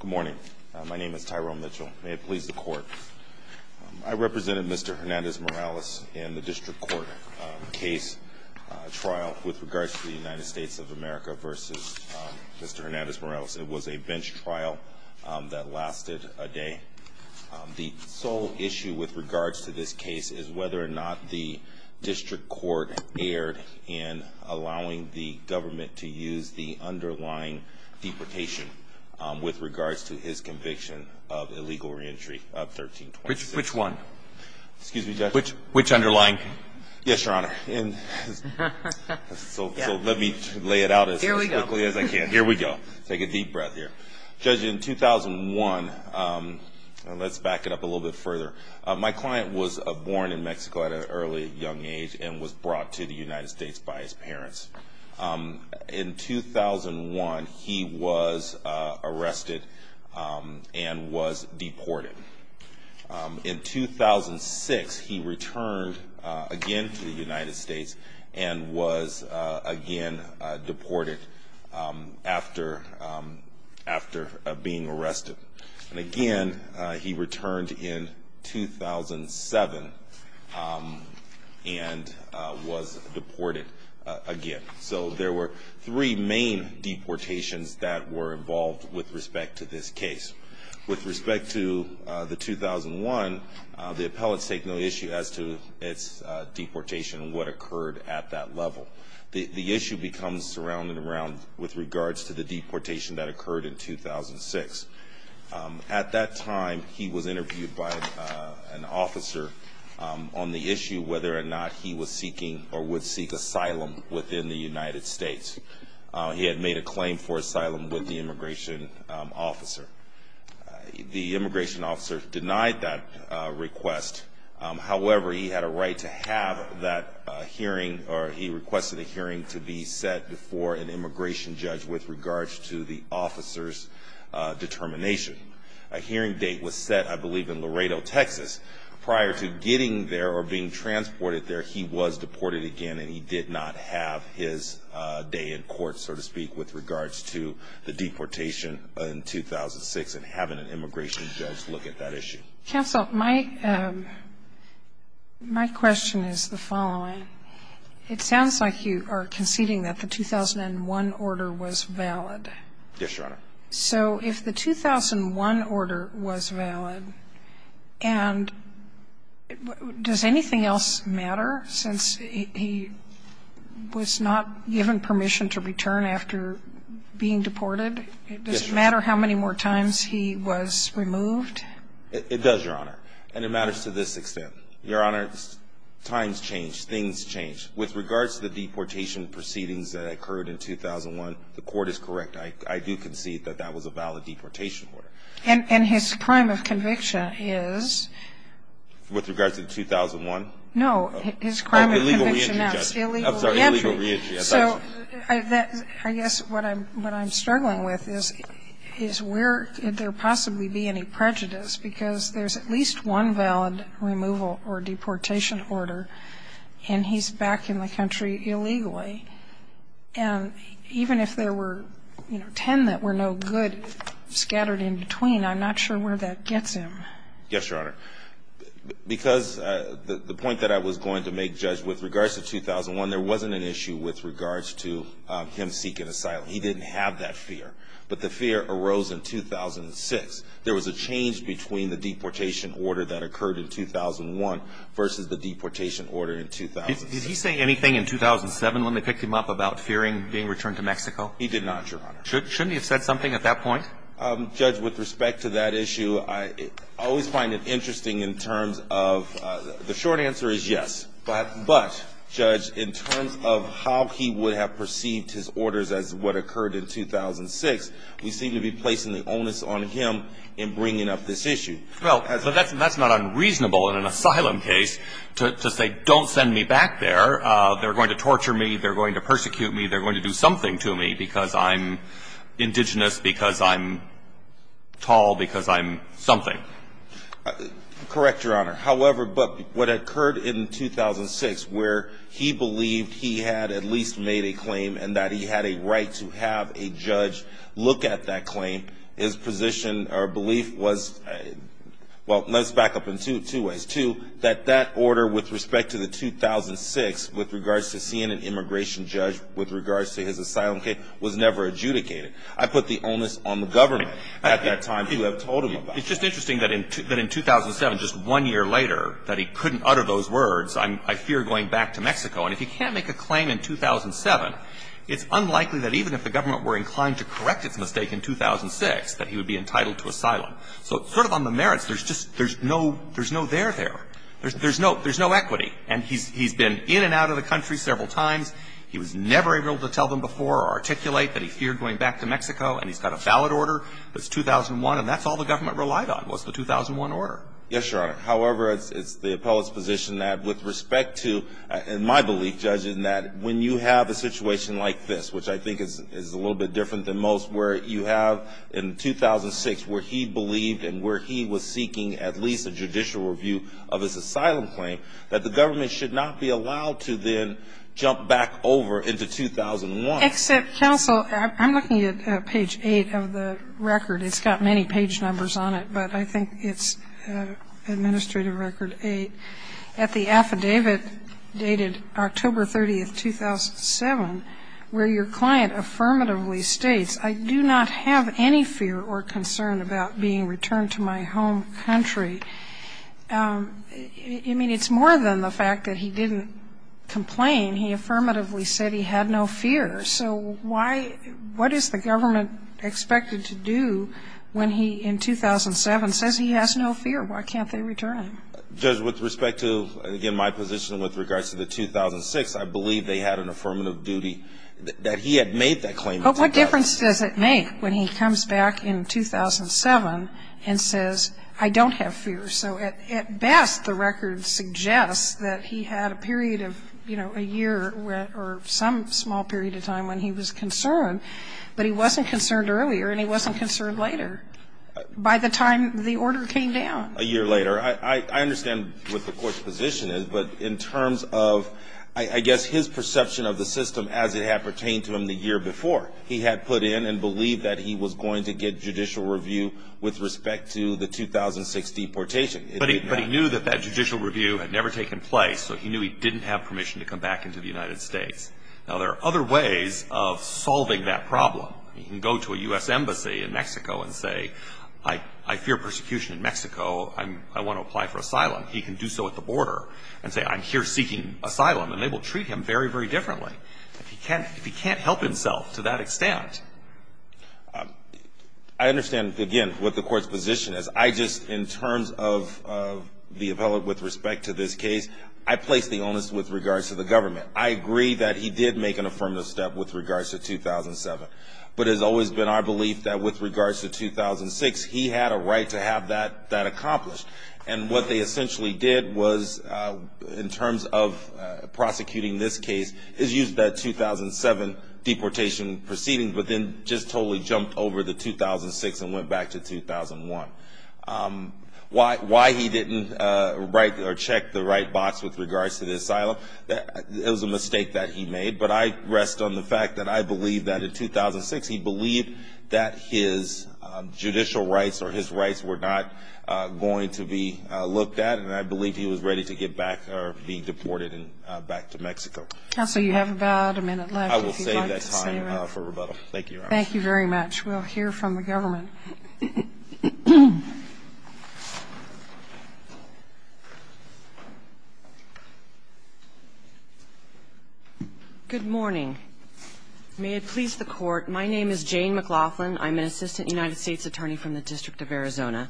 Good morning. My name is Tyrone Mitchell. May it please the court. I represented Mr. Hernandez-Morales in the district court case trial with regards to the United States of America v. Mr. Hernandez-Morales. It was a bench trial that lasted a day. The sole issue with regards to this case is whether or not the district court erred in allowing the government to use the underlying deportation with regards to his conviction of illegal reentry of 1326. Which one? Excuse me, Judge. Which underlying? Yes, Your Honor. So let me lay it out as quickly as I can. Here we go. Take a deep breath here. Judge, in 2001, let's back it up a little bit further. My client was born in Mexico at an early young age and was brought to the United States by his parents. In 2001, he was arrested and was deported. In 2006, he returned again to the United States and was again deported after being arrested. And again, he returned in 2007 and was deported again. So there were three main deportations that were involved with respect to this case. With respect to the 2001, the appellants take no issue as to its deportation and what occurred at that level. The issue becomes surrounded around with regards to the deportation that occurred in 2006. At that time, he was interviewed by an officer on the issue whether or not he was seeking or would seek asylum within the United States. He had made a claim for asylum with the immigration officer. The immigration officer denied that request. However, he had a right to have that hearing, or he requested a hearing to be set before an immigration judge with regards to the officer's determination. A hearing date was set, I believe, in Laredo, Texas. Prior to getting there or being transported there, he was deported again and he did not have his day in court, so to speak, with regards to the deportation in 2006 and having an immigration judge look at that issue. Counsel, my question is the following. It sounds like you are conceding that the 2001 order was valid. Yes, Your Honor. So if the 2001 order was valid, and does anything else matter since he was not given permission to return after being deported? Yes, Your Honor. Does it matter how many more times he was removed? It does, Your Honor, and it matters to this extent. Your Honor, times change, things change. With regards to the deportation proceedings that occurred in 2001, the Court is correct. I do concede that that was a valid deportation order. And his crime of conviction is? With regards to the 2001? No. His crime of conviction is illegal reentry. So I guess what I'm struggling with is where could there possibly be any prejudice, because there's at least one valid removal or deportation order and he's back in the country illegally. And even if there were, you know, ten that were no good scattered in between, I'm not sure where that gets him. Yes, Your Honor. Because the point that I was going to make, Judge, with regards to 2001, there wasn't an issue with regards to him seeking asylum. He didn't have that fear. But the fear arose in 2006. There was a change between the deportation order that occurred in 2001 versus the deportation order in 2006. Did he say anything in 2007 when they picked him up about fearing being returned to Mexico? He did not, Your Honor. Shouldn't he have said something at that point? Judge, with respect to that issue, I always find it interesting in terms of the short answer is yes. But, Judge, in terms of how he would have perceived his orders as what occurred in 2006, we seem to be placing the onus on him in bringing up this issue. Well, that's not unreasonable in an asylum case to say don't send me back there. They're going to torture me. They're going to persecute me. They're going to do something to me because I'm indigenous, because I'm tall, because I'm something. Correct, Your Honor. However, what occurred in 2006 where he believed he had at least made a claim and that he had a right to have a judge look at that claim, his position or belief was, well, let's back up in two ways. Two, that that order with respect to the 2006 with regards to seeing an immigration judge, with regards to his asylum case, was never adjudicated. I put the onus on the government at that time to have told him about it. It's just interesting that in 2007, just one year later, that he couldn't utter those words, I fear going back to Mexico. And if he can't make a claim in 2007, it's unlikely that even if the government were inclined to correct its mistake in 2006, that he would be entitled to asylum. So sort of on the merits, there's just no there there. There's no equity. And he's been in and out of the country several times. He was never able to tell them before or articulate that he feared going back to Mexico, and he's got a valid order. It's 2001, and that's all the government relied on was the 2001 order. Yes, Your Honor. However, it's the appellate's position that with respect to, in my belief, when you have a situation like this, which I think is a little bit different than most, where you have in 2006 where he believed and where he was seeking at least a judicial review of his asylum claim, that the government should not be allowed to then jump back over into 2001. Except counsel, I'm looking at page 8 of the record. It's got many page numbers on it, but I think it's administrative record 8. At the affidavit dated October 30th, 2007, where your client affirmatively states, I do not have any fear or concern about being returned to my home country. I mean, it's more than the fact that he didn't complain. He affirmatively said he had no fear. So why, what is the government expected to do when he, in 2007, says he has no fear? Why can't they return him? Because with respect to, again, my position with regards to the 2006, I believe they had an affirmative duty that he had made that claim. But what difference does it make when he comes back in 2007 and says, I don't have fear? So at best, the record suggests that he had a period of, you know, a year or some small period of time when he was concerned, but he wasn't concerned earlier and he wasn't concerned later. By the time the order came down. A year later. I understand what the court's position is, but in terms of, I guess, his perception of the system as it had pertained to him the year before. He had put in and believed that he was going to get judicial review with respect to the 2006 deportation. But he knew that that judicial review had never taken place, so he knew he didn't have permission to come back into the United States. Now, there are other ways of solving that problem. He can go to a U.S. embassy in Mexico and say, I fear persecution in Mexico. I want to apply for asylum. He can do so at the border and say, I'm here seeking asylum. And they will treat him very, very differently. If he can't help himself to that extent. I understand, again, what the court's position is. I just, in terms of the appellate with respect to this case, I place the onus with regards to the government. I agree that he did make an affirmative step with regards to 2007. But it has always been our belief that with regards to 2006, he had a right to have that accomplished. And what they essentially did was, in terms of prosecuting this case, is use that 2007 deportation proceeding but then just totally jumped over the 2006 and went back to 2001. Why he didn't write or check the right box with regards to the asylum, it was a mistake that he made. But I rest on the fact that I believe that in 2006, he believed that his judicial rights or his rights were not going to be looked at. And I believe he was ready to get back or be deported back to Mexico. Counsel, you have about a minute left. I will save that time for rebuttal. Thank you, Your Honor. Thank you very much. We'll hear from the government. Good morning. May it please the Court. My name is Jane McLaughlin. I'm an assistant United States attorney from the District of Arizona.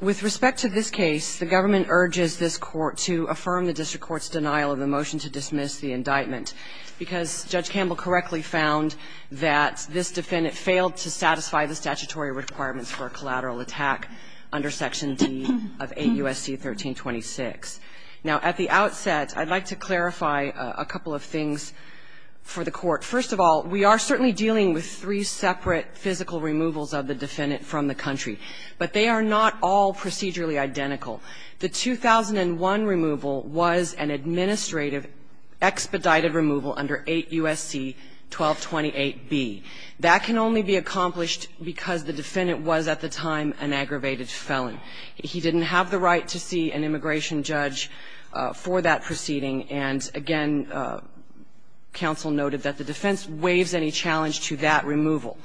With respect to this case, the government urges this Court to affirm the district court's denial of the motion to dismiss the indictment, because Judge Campbell correctly found that this defendant failed to satisfy the statutory requirements for a collateral attack under Section D of 8 U.S.C. 1326. Now, at the outset, I'd like to clarify a couple of things for the Court. First of all, we are certainly dealing with three separate physical removals of the defendant from the country. But they are not all procedurally identical. The 2001 removal was an administrative expedited removal under 8 U.S.C. 1228B. That can only be accomplished because the defendant was at the time an aggravated felon. He didn't have the right to see an immigration judge for that proceeding. And, again, counsel noted that the defense waives any challenge to that removal.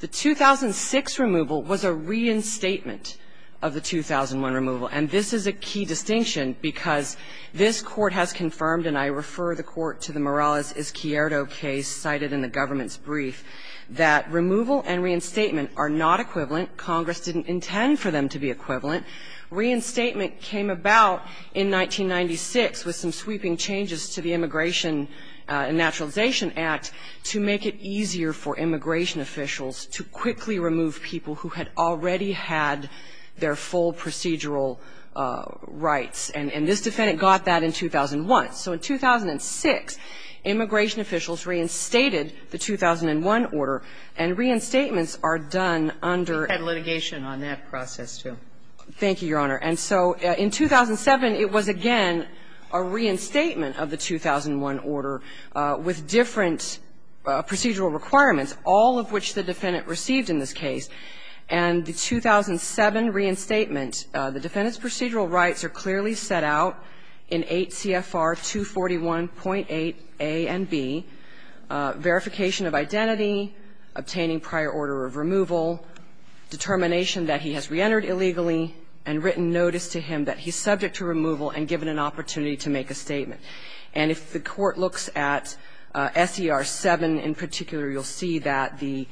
The 2006 removal was a reinstatement of the 2001 removal. And this is a key distinction because this Court has confirmed, and I refer the Court to the Morales-Izquierdo case cited in the government's brief, that removal and reinstatement are not equivalent. Congress didn't intend for them to be equivalent. Reinstatement came about in 1996 with some sweeping changes to the Immigration and Naturalization Act to make it easier for immigration officials to quickly remove people who had already had their full procedural rights. And this defendant got that in 2001. So in 2006, immigration officials reinstated the 2001 order, and reinstatements are done under the 2001. Kagan. We had litigation on that process, too. Thank you, Your Honor. And so in 2007, it was again a reinstatement of the 2001 order with different procedural requirements, all of which the defendant received in this case. And the 2007 reinstatement, the defendant's procedural rights are clearly set out in 8 CFR 241.8a and b, verification of identity, obtaining prior order of removal, determination that he has reentered illegally, and written notice to him that he's subject to removal and given an opportunity to make a statement. And if the Court looks at SER 7 in particular, you'll see that the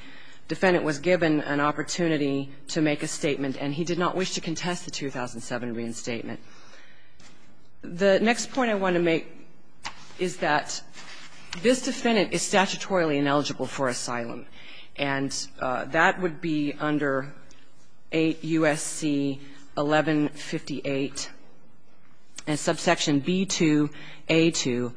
defendant was given an opportunity to make a statement and he did not wish to contest the 2007 reinstatement. The next point I want to make is that this defendant is statutorily ineligible for asylum. And that would be under 8 U.S.C. 1158 and subsection b2a2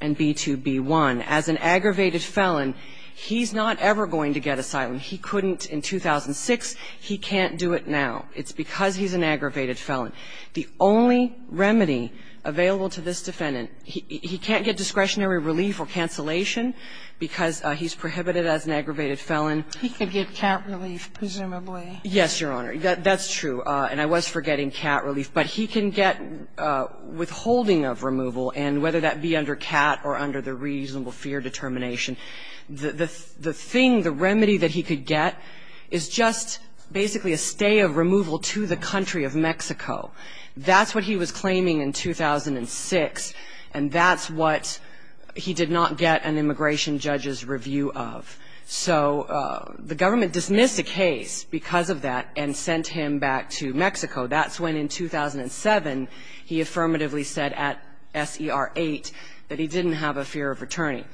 and b2b1. As an aggravated felon, he's not ever going to get asylum. He couldn't in 2006. He can't do it now. It's because he's an aggravated felon. The only remedy available to this defendant, he can't get discretionary relief or cancellation because he's prohibited as an aggravated felon. He could get cat relief, presumably. Yes, Your Honor. That's true. And I was forgetting cat relief. But he can get withholding of removal, and whether that be under cat or under the reasonable fear determination, the thing, the remedy that he could get is just basically a stay of removal to the country of Mexico. That's what he was claiming in 2006. And that's what he did not get an immigration judge's review of. So the government dismissed the case because of that and sent him back to Mexico. That's when in 2007 he affirmatively said at SER 8 that he didn't have a fear of returning.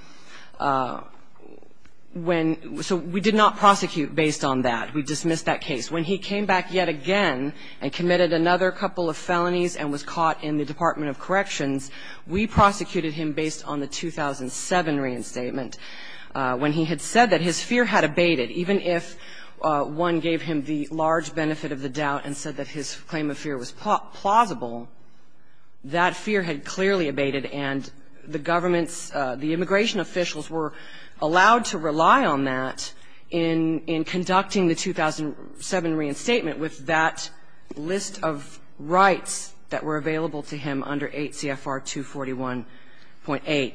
When so we did not prosecute based on that. We dismissed that case. When he came back yet again and committed another couple of felonies and was caught in the Department of Corrections, we prosecuted him based on the 2007 reinstatement. When he had said that his fear had abated, even if one gave him the large benefit of the doubt and said that his claim of fear was plausible, that fear had clearly abated and the government's, the immigration officials were allowed to rely on that in conducting the 2007 reinstatement with that list of rights that were available to him under 8 CFR 241.8.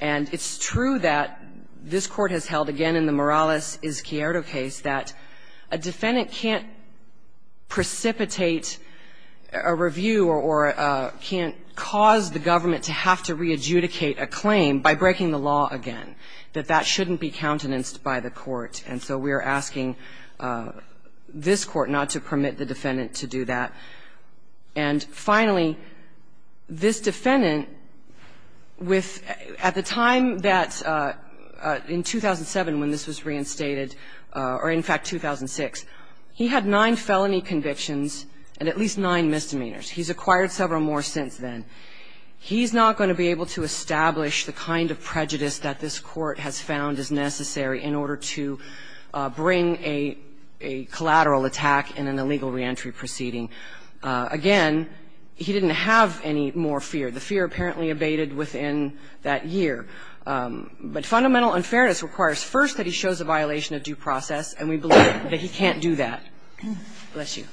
And it's true that this Court has held again in the Morales-Izquierdo case that a defendant can't precipitate a review or can't cause the government to have to re-adjudicate a claim by breaking the law again, that that shouldn't be countenanced by the court. And so we are asking this Court not to permit the defendant to do that. And finally, this defendant, with at the time that in 2007 when this was reinstated or in fact 2006, he had nine felony convictions and at least nine misdemeanors. He's acquired several more since then. He's not going to be able to establish the kind of prejudice that this Court has found is necessary in order to bring a collateral attack in an illegal reentry proceeding. Again, he didn't have any more fear. The fear apparently abated within that year. But fundamental unfairness requires first that he shows a violation of due process, and we believe that he can't do that. Bless you.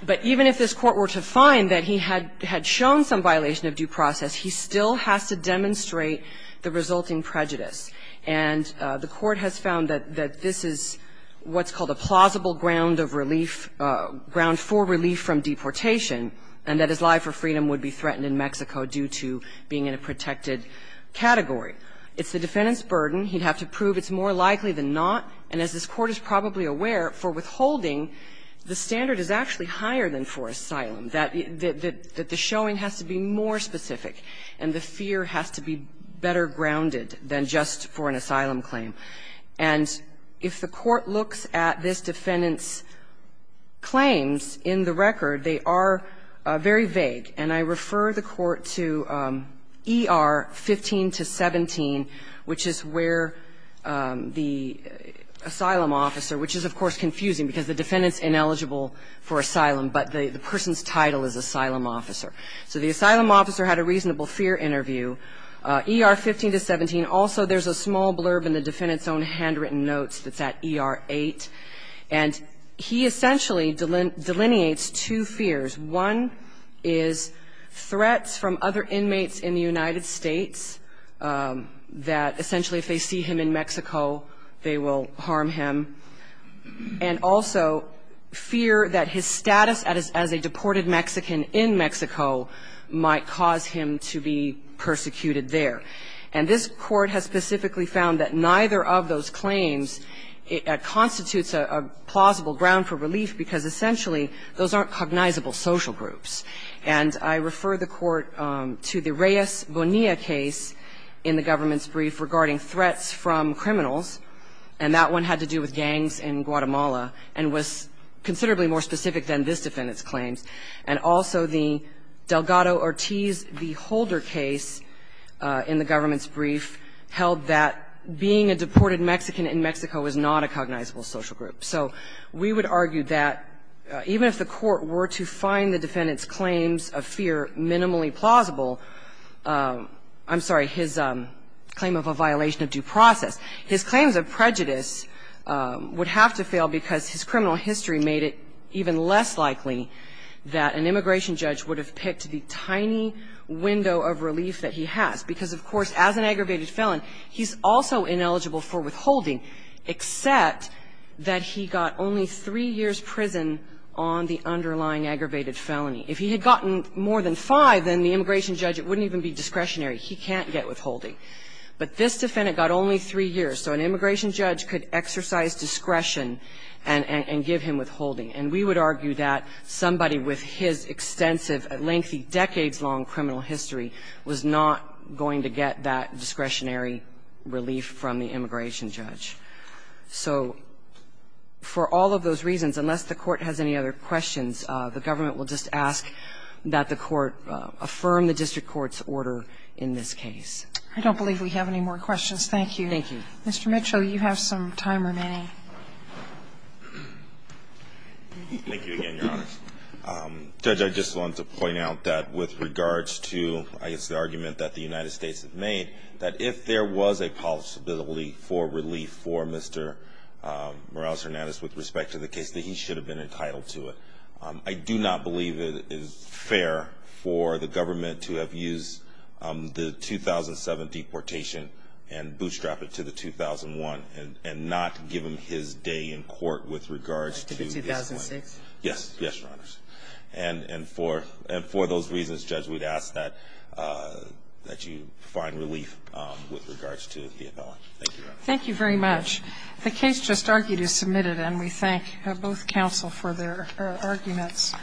But even if this Court were to find that he had shown some violation of due process, he still has to demonstrate the resulting prejudice. And the Court has found that this is what's called a plausible ground of relief or ground for relief from deportation, and that his life for freedom would be threatened in Mexico due to being in a protected category. It's the defendant's burden. He'd have to prove it's more likely than not. And as this Court is probably aware, for withholding, the standard is actually higher than for asylum, that the showing has to be more specific, and the fear has to be better grounded than just for an asylum claim. And if the Court looks at this defendant's claims in the record, they are very vague. And I refer the Court to ER 15-17, which is where the asylum officer, which is, of course, confusing because the defendant's ineligible for asylum, but the person's title is asylum officer. So the asylum officer had a reasonable fear interview. ER 15-17, also there's a small blurb in the defendant's own handwritten notes that's at ER 8. And he essentially delineates two fears. One is threats from other inmates in the United States that essentially if they see him in Mexico, they will harm him. And also fear that his status as a deported Mexican in Mexico might cause him to be persecuted there. And this Court has specifically found that neither of those claims constitutes a plausible ground for relief because essentially those aren't cognizable social groups. And I refer the Court to the Reyes Bonilla case in the government's brief regarding threats from criminals. And that one had to do with gangs in Guatemala and was considerably more specific than this defendant's claims. And also the Delgado-Ortiz v. Holder case in the government's brief held that being a deported Mexican in Mexico is not a cognizable social group. So we would argue that even if the Court were to find the defendant's claims of fear minimally plausible, I'm sorry, his claim of a violation of due process, his claim of prejudice would have to fail because his criminal history made it even less likely that an immigration judge would have picked the tiny window of relief that he has. Because, of course, as an aggravated felon, he's also ineligible for withholding except that he got only three years' prison on the underlying aggravated felony. If he had gotten more than five, then the immigration judge, it wouldn't even be discretionary. He can't get withholding. But this defendant got only three years. So an immigration judge could exercise discretion and give him withholding. And we would argue that somebody with his extensive, lengthy, decades-long criminal history was not going to get that discretionary relief from the immigration judge. So for all of those reasons, unless the Court has any other questions, the government will just ask that the Court affirm the district court's order in this case. I don't believe we have any more questions. Thank you. Thank you. Mr. Mitchell, you have some time remaining. Thank you again, Your Honor. Judge, I just wanted to point out that with regards to, I guess, the argument that the United States has made, that if there was a possibility for relief for Mr. Morales-Hernandez with respect to the case, that he should have been entitled to it. I do not believe it is fair for the government to have used the 2007 deportation and bootstrap it to the 2001 and not give him his day in court with regards to this one. The 2006? Yes. Yes, Your Honor. And for those reasons, Judge, we'd ask that you find relief with regards to the appellant. Thank you, Your Honor. Thank you very much. The case just argued is submitted, and we thank both counsel for their arguments.